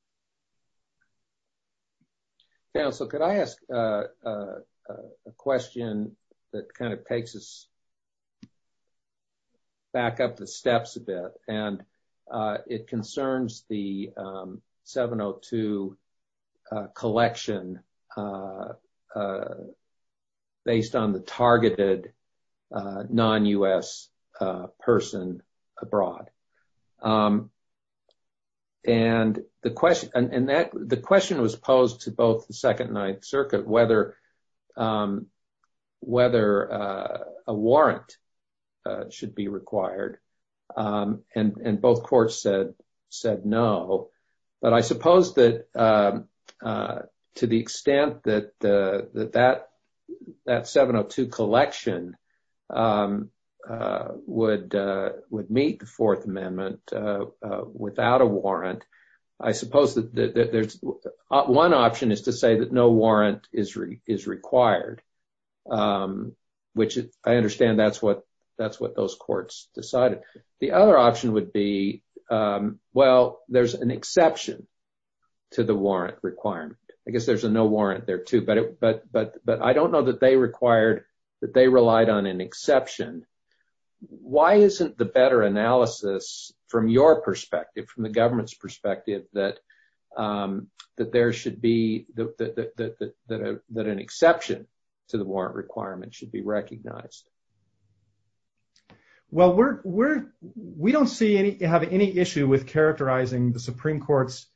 Counselor, could I ask a question that kind of takes us back up the steps a bit? It concerns the 702 collection based on the targeted non-U.S. person abroad, and the question was posed to both the Second Ninth Circuit whether a warrant should be required, and both courts said no. But I suppose that to the extent that that 702 collection would meet the Fourth Amendment without a warrant, I suppose that one option is to say that no warrant is required, which I understand that's what those courts decided. The other option would be, well, there's an exception to the warrant requirement. I guess there's a no warrant there, too, but I don't know that they relied on an exception. Why isn't the better analysis, from your perspective, from the government's perspective, that an exception to the warrant requirement should be recognized? Well, we don't have any issue with the Supreme Court's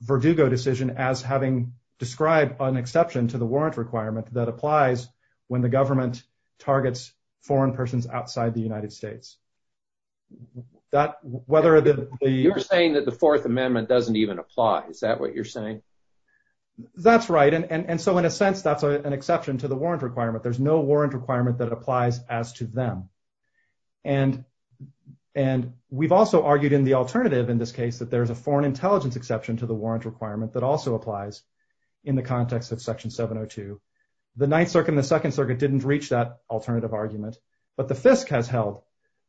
Verdugo decision as having described an exception to the warrant requirement that applies when the government targets foreign persons outside the United States. You're saying that the Fourth Amendment doesn't even apply. Is that what you're saying? That's right, and so in a sense, that's an exception to the warrant requirement. There's no warrant requirement that applies as to them. And we've also argued in the alternative, in this case, that there's a foreign intelligence exception to the warrant requirement that also applies in the context of Section 702. The Ninth Circuit and the Second Circuit didn't reach that alternative argument, but the FISC has held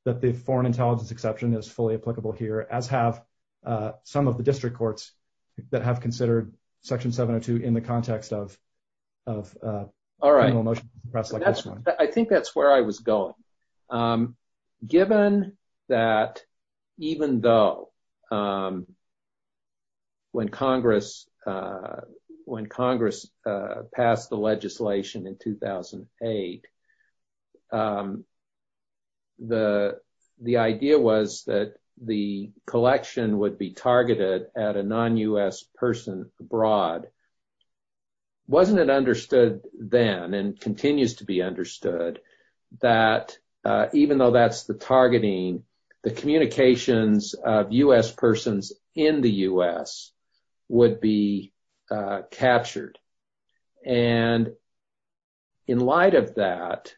that the foreign intelligence exception is fully applicable here, as have some of the district courts that have considered Section 702 in the past. When Congress passed the legislation in 2008, the idea was that the collection would be targeted at a non-U.S. person abroad. Wasn't it understood then, and continues to be understood, that even though that's the targeting, the communications of U.S. persons in the U.S. would be captured? And in light of that,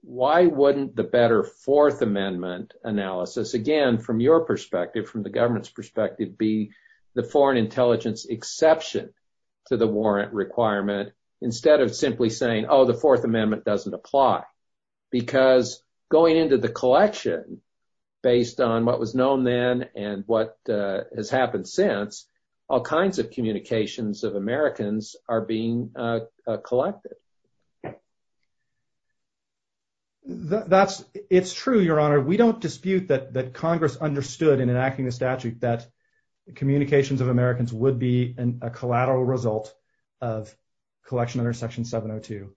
why wouldn't the better Fourth Amendment analysis, again, from your perspective, from the government's perspective, be the foreign intelligence exception to the warrant requirement, instead of simply saying, oh, the Fourth Amendment doesn't apply? Because going into the collection, based on what was known then and what has happened since, all kinds of communications of Americans are being collected. It's true, Your Honor. We don't dispute that Congress understood in enacting the statute that communications of Americans would be a collateral result of collection under Section 702.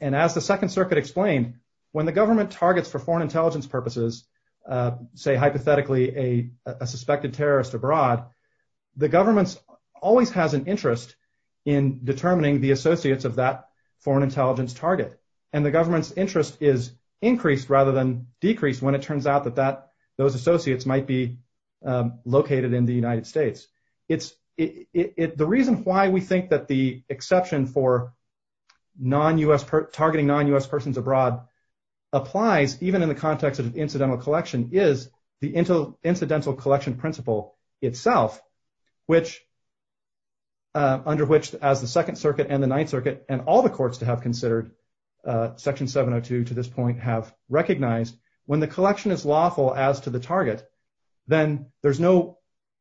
And as the Second Circuit explained, when the government targets for foreign intelligence purposes, say, hypothetically, a suspected terrorist abroad, the government always has an interest in determining the associates of that foreign intelligence target. And the government's interest is increased rather than decreased when it turns out that those associates might be in the United States. The reason why we think that the exception for targeting non-U.S. persons abroad applies, even in the context of incidental collection, is the incidental collection principle itself, under which, as the Second Circuit and the Ninth Circuit and all the courts that have considered Section 702 to this point have recognized, when the collection is lawful as to the target, then there's no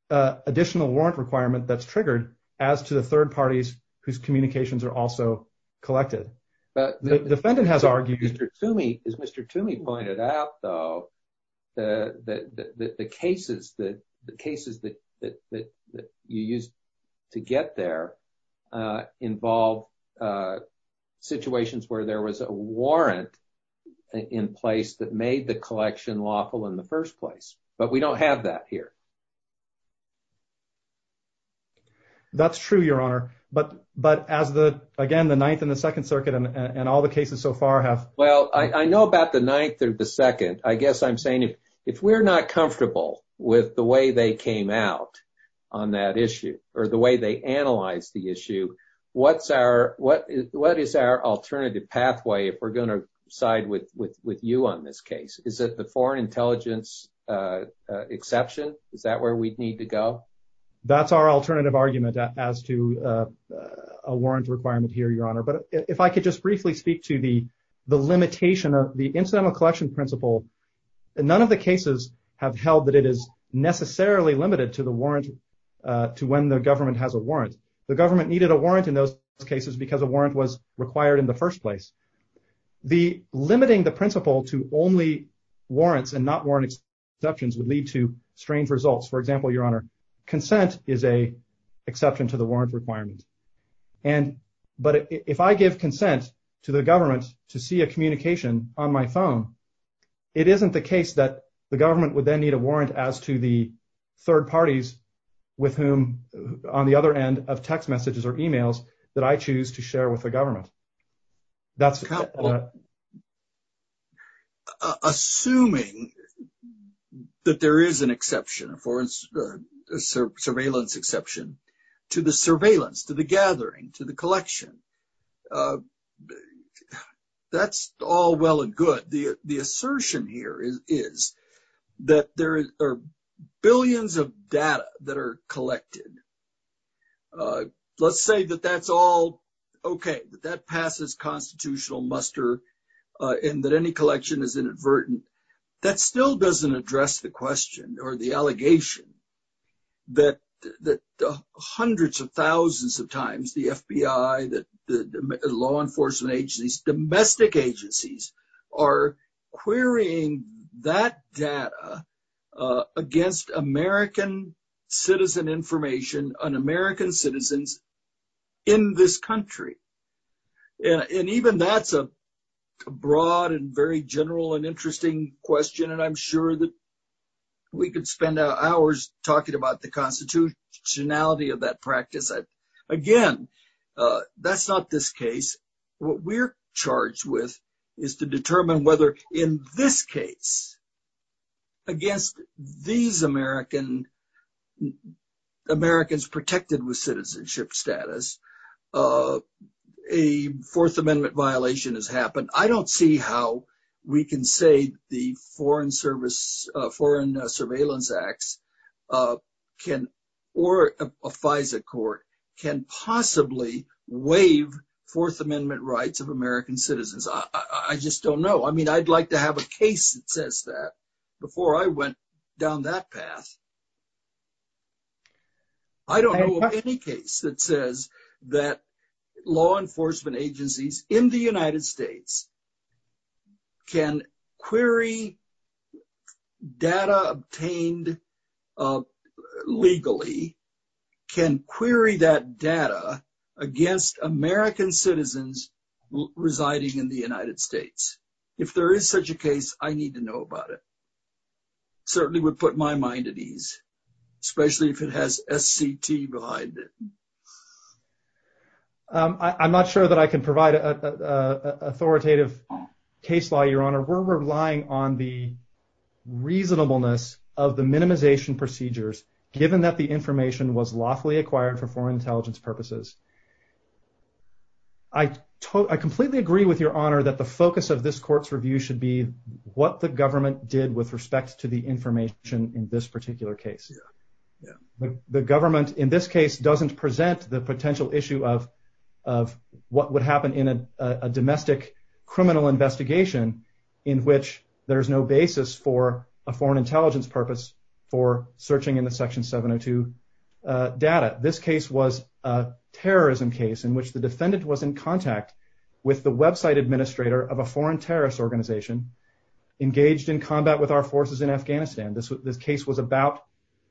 additional warrant requirement that's triggered as to the third parties whose communications are also collected. But the defendant has argued— Mr. Toomey, as Mr. Toomey pointed out, though, the cases that you used to get there involve situations where there was a warrant in place that made the collection lawful in the first place. But we don't have that here. That's true, Your Honor. But as the, again, the Ninth and the Second Circuit and all the cases so far have— Well, I know about the Ninth and the Second. I guess I'm saying, if we're not comfortable with the way they came out on that issue or the way they analyzed the issue, what's our—what is our alternative pathway if we're going to side with you on this case? Is it the warrant intelligence exception? Is that where we'd need to go? That's our alternative argument as to a warrant requirement here, Your Honor. But if I could just briefly speak to the limitation of the incidental collection principle, none of the cases have held that it is necessarily limited to the warrant—to when the government has a warrant. The government needed a warrant in those cases because a warrant was required in the first place. The limiting the principle to only warrants and not warrant exceptions would lead to strange results. For example, Your Honor, consent is an exception to the warrant requirement. And—but if I give consent to the government to see a communication on my phone, it isn't the case that the government would then need a warrant as to the third parties with whom, on the other end of text messages or emails that I choose to share with the government. That's— Assuming that there is an exception or a surveillance exception to the surveillance, to the gathering, to the collection, that's all well and good. The assertion here is that there are billions of data that are collected. Let's say that that's all okay, that that passes constitutional muster and that any collection is inadvertent. That still doesn't address the question or the allegation that hundreds of thousands of times, the FBI, the law enforcement agencies, domestic agencies are querying that data against American citizen information on American citizens in this country. And even that's a broad and very general and interesting question, and I'm sure that we could spend hours talking about the constitutionality of that practice. Again, that's not this case. What we're charged with is to determine whether in this case, against these Americans protected with citizenship status, a Fourth Amendment violation has happened. I don't see how we can say the Foreign Service—Foreign FISA Court can possibly waive Fourth Amendment rights of American citizens. I just don't know. I mean, I'd like to have a case that says that before I went down that path. I don't know of any case that says that law enforcement agencies in the United States can query data obtained legally, can query that data against American citizens residing in the United States. If there is such a case, I need to know about it. Certainly would put my mind at ease, especially if it has SCT behind it. I'm not sure that I can provide an authoritative case law, Your Honor. We're relying on the reasonableness of the minimization procedures, given that the information was lawfully acquired for foreign intelligence purposes. I completely agree with Your Honor that the focus of this court's review should be what the government did with respect to the information in this particular case. The government, in this case, doesn't present the potential issue of what would happen in a domestic criminal investigation in which there's no basis for a foreign intelligence purpose for searching in the Section 702 data. This case was a terrorism case in which the defendant was in contact with the website administrator of a foreign terrorist organization engaged in combat with our forces in Afghanistan. The case was about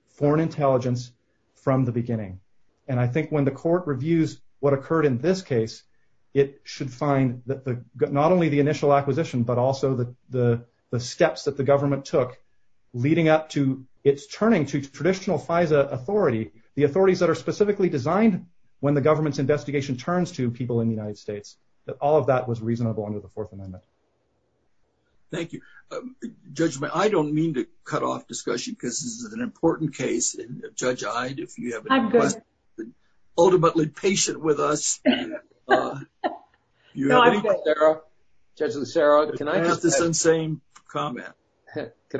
foreign intelligence from the beginning. And I think when the court reviews what occurred in this case, it should find not only the initial acquisition, but also the steps that the government took leading up to its turning to traditional FISA authority, the authorities that are specifically designed when the government's investigation turns to people in the United States, that all of that was reasonable under the Fourth Amendment. Thank you. Judge, I don't mean to cut off discussion because this is an important case. Judge Iyed, if you have any questions, ultimately patient with us. Judge Nassaroff, can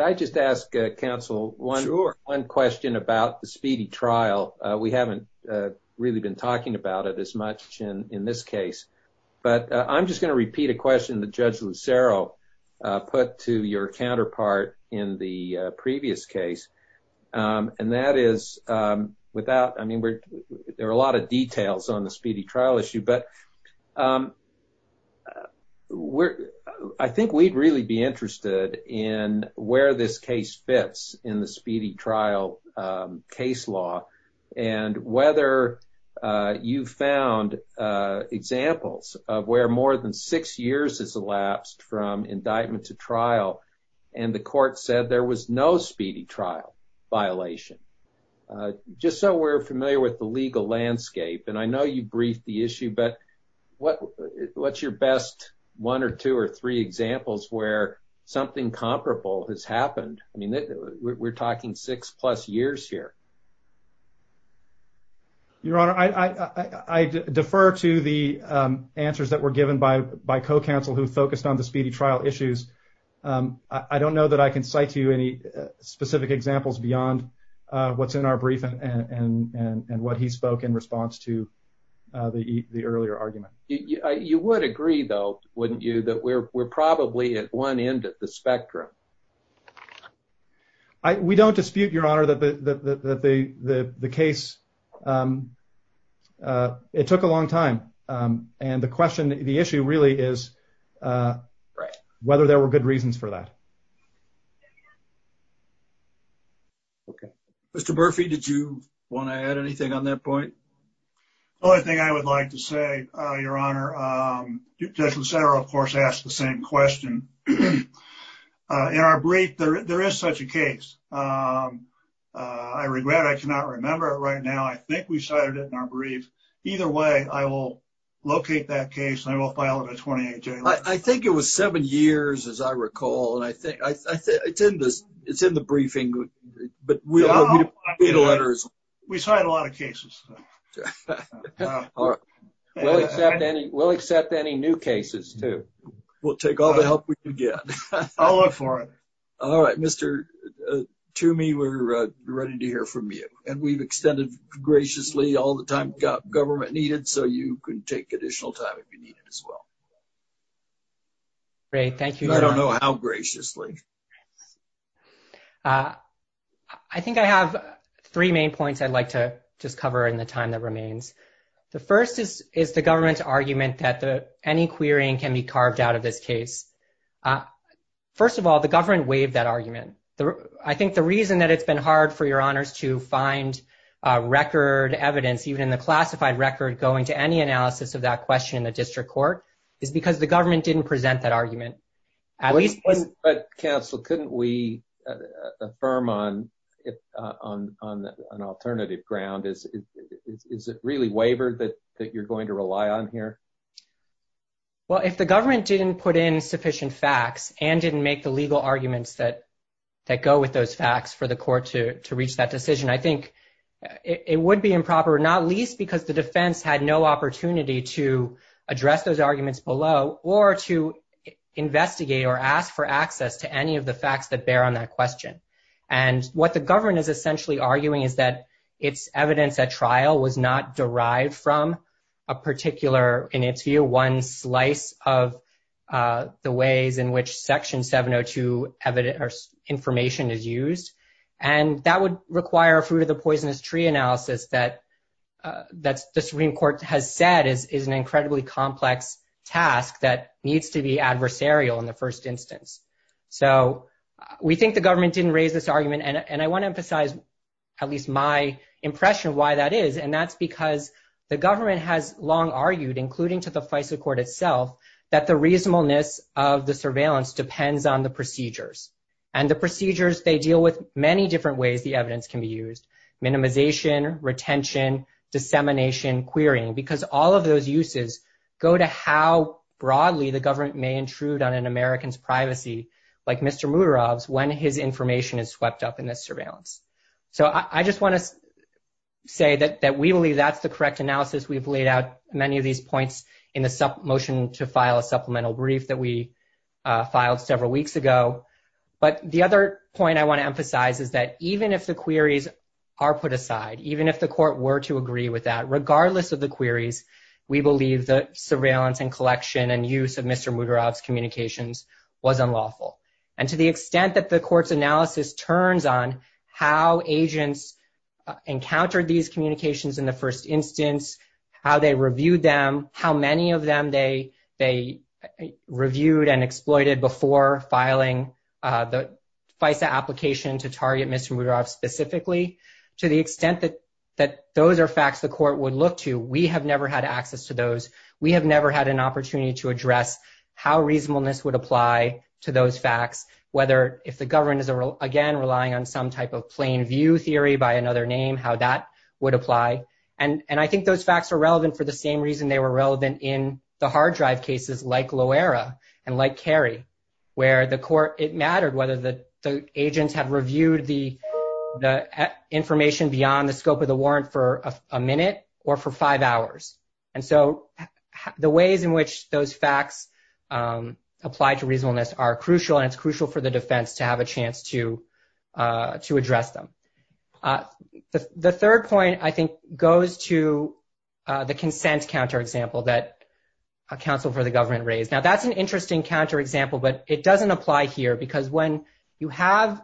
I just ask counsel one question about the speedy trial. We haven't really been talking about it as much in this case. But I'm just going to repeat a question that Judge Lucero put to your counterpart in the previous case. And that is without, I mean, there are a lot of details on the speedy trial issue, but I think we'd really be interested in where this case fits in the speedy trial case law and whether you found examples of where more than six years has elapsed from indictment to trial and the court said there was no speedy trial violation. Just so we're familiar with the legal landscape, and I know you briefed the issue, but what's your best one or two or three examples where something comparable has happened? I mean, we're talking six plus years here. Your Honor, I defer to the answers that were given by co-counsel who focused on the speedy trial issues. I don't know that I can cite to you any specific examples beyond what's in our briefing and what he spoke in response to the earlier argument. You would agree though, wouldn't you, that we're probably at one end of the spectrum? We don't dispute, Your Honor, that the case, it took a long time. And the question, the issue really is whether there were good reasons for that. Okay. Mr. Murphy, did you want to add anything on that point? The only thing I would like to say, Your Honor, Judge Lucero, of course, asked the same question. In our brief, there is such a case. I regret I cannot remember it right now. I think we cited it in our brief. Either way, I will locate that case and I will file it at 28 January. I think it was seven years, as I recall. It's in the briefing. We cited a lot of cases. We'll accept any new cases too. We'll take all the help we can get. I'll look for it. All right. Mr. Toomey, we're ready to hear from you. And we've extended graciously all the time government needed, so you can take additional time if you need it as well. Great. Thank you, Your Honor. I don't know how graciously. I think I have three main points I'd like to just cover in the time that remains. The first is the government's argument that any querying can be carved out of this case. First of all, the government waived that argument. I think the reason that it's been hard for Your Honors to find record evidence, even the classified record, going to any analysis of that question in the government didn't present that argument. But counsel, couldn't we affirm on an alternative ground? Is it really waivered that you're going to rely on here? Well, if the government didn't put in sufficient facts and didn't make the legal arguments that go with those facts for the court to reach that decision, I think it would be improper, not least because the defense had no opportunity to address those arguments below or to investigate or ask for access to any of the facts that bear on that question. And what the government is essentially arguing is that it's evidence that trial was not derived from a particular, in its view, one slice of the ways in which Section 702 information is used. And that would require a poisonous tree analysis that the Supreme Court has said is an incredibly complex task that needs to be adversarial in the first instance. So we think the government didn't raise this argument. And I want to emphasize, at least my impression of why that is. And that's because the government has long argued, including to the FISA Court itself, that the reasonableness of the surveillance depends on the procedures. And the procedures, they deal with many different ways the evidence can be used. Minimization, retention, dissemination, querying. Because all of those uses go to how broadly the government may intrude on an American's privacy, like Mr. Murov's, when his information is swept up in that surveillance. So I just want to say that we believe that's the correct analysis. We've laid out many of these points in the motion to file a supplemental brief that we filed several weeks ago. But the other point I want to emphasize is that even if the queries are put aside, even if the court were to agree with that, regardless of the queries, we believe that surveillance and collection and use of Mr. Murov's communications was unlawful. And to the extent that the court's analysis turns on how agents encountered these communications in the first instance, how they reviewed them, how many of them they reviewed and exploited before filing the application to target Mr. Murov specifically, to the extent that those are facts the court would look to, we have never had access to those. We have never had an opportunity to address how reasonableness would apply to those facts, whether if the government is, again, relying on some type of plain view theory by another name, how that would apply. And I think those facts are relevant for the same reason they were relevant in the hard drive cases like Loera and like Kerry, where the court, it mattered whether the agents have reviewed the information beyond the scope of the warrant for a minute or for five hours. And so the ways in which those facts apply to reasonableness are crucial, and it's crucial for the defense to have a chance to address them. The third point, I think, goes to the consent counterexample that a counsel for the government raised. Now that's an interesting counterexample, but it doesn't apply here because when you have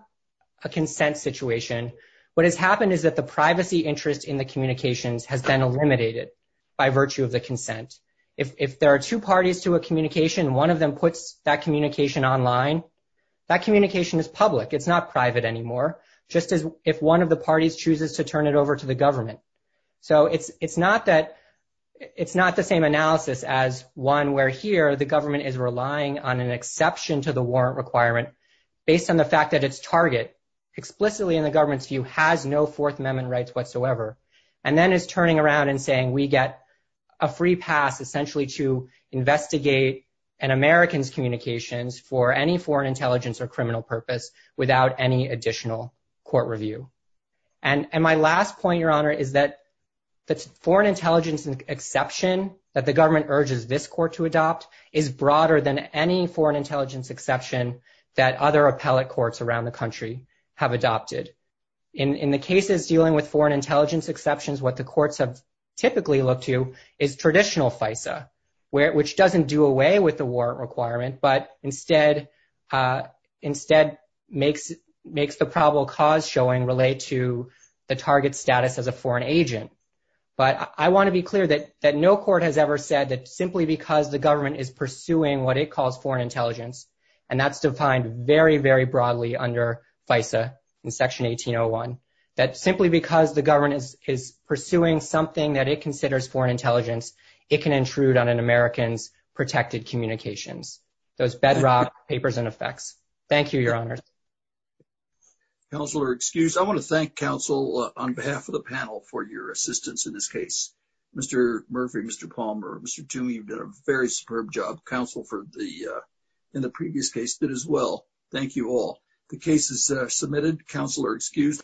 a consent situation, what has happened is that the privacy interest in the communications has been eliminated by virtue of the consent. If there are two parties to a communication, one of them puts that communication online, that communication is public. It's not private anymore, just as if one of the parties chooses to turn it over to the government. So it's not the same analysis as one where here the government is relying on an exception to the warrant requirement based on the fact that its target explicitly in the government's view has no Fourth Amendment rights whatsoever, and then it's turning around and saying, we get a free path essentially to investigate an American's communications for any foreign intelligence or criminal purpose without any consent. So my last point, Your Honor, is that the foreign intelligence exception that the government urges this court to adopt is broader than any foreign intelligence exception that other appellate courts around the country have adopted. In the case of dealing with foreign intelligence exceptions, what the courts have typically looked to is traditional FISA, which doesn't do away with warrant requirement, but instead makes the probable cause showing relate to the target status as a foreign agent. But I want to be clear that no court has ever said that simply because the government is pursuing what it calls foreign intelligence, and that's defined very, very broadly under FISA in Section 1801, that simply because the government is pursuing something that it calls foreign intelligence. So it's bedrock, papers, and effects. Thank you, Your Honor. Counselor, excused. I want to thank counsel on behalf of the panel for your assistance in this case. Mr. Murphy, Mr. Palmer, Mr. Tuohy, you've done a very superb job. Counsel in the previous case did as well. Thank you all. The case is submitted. Counselor, excused.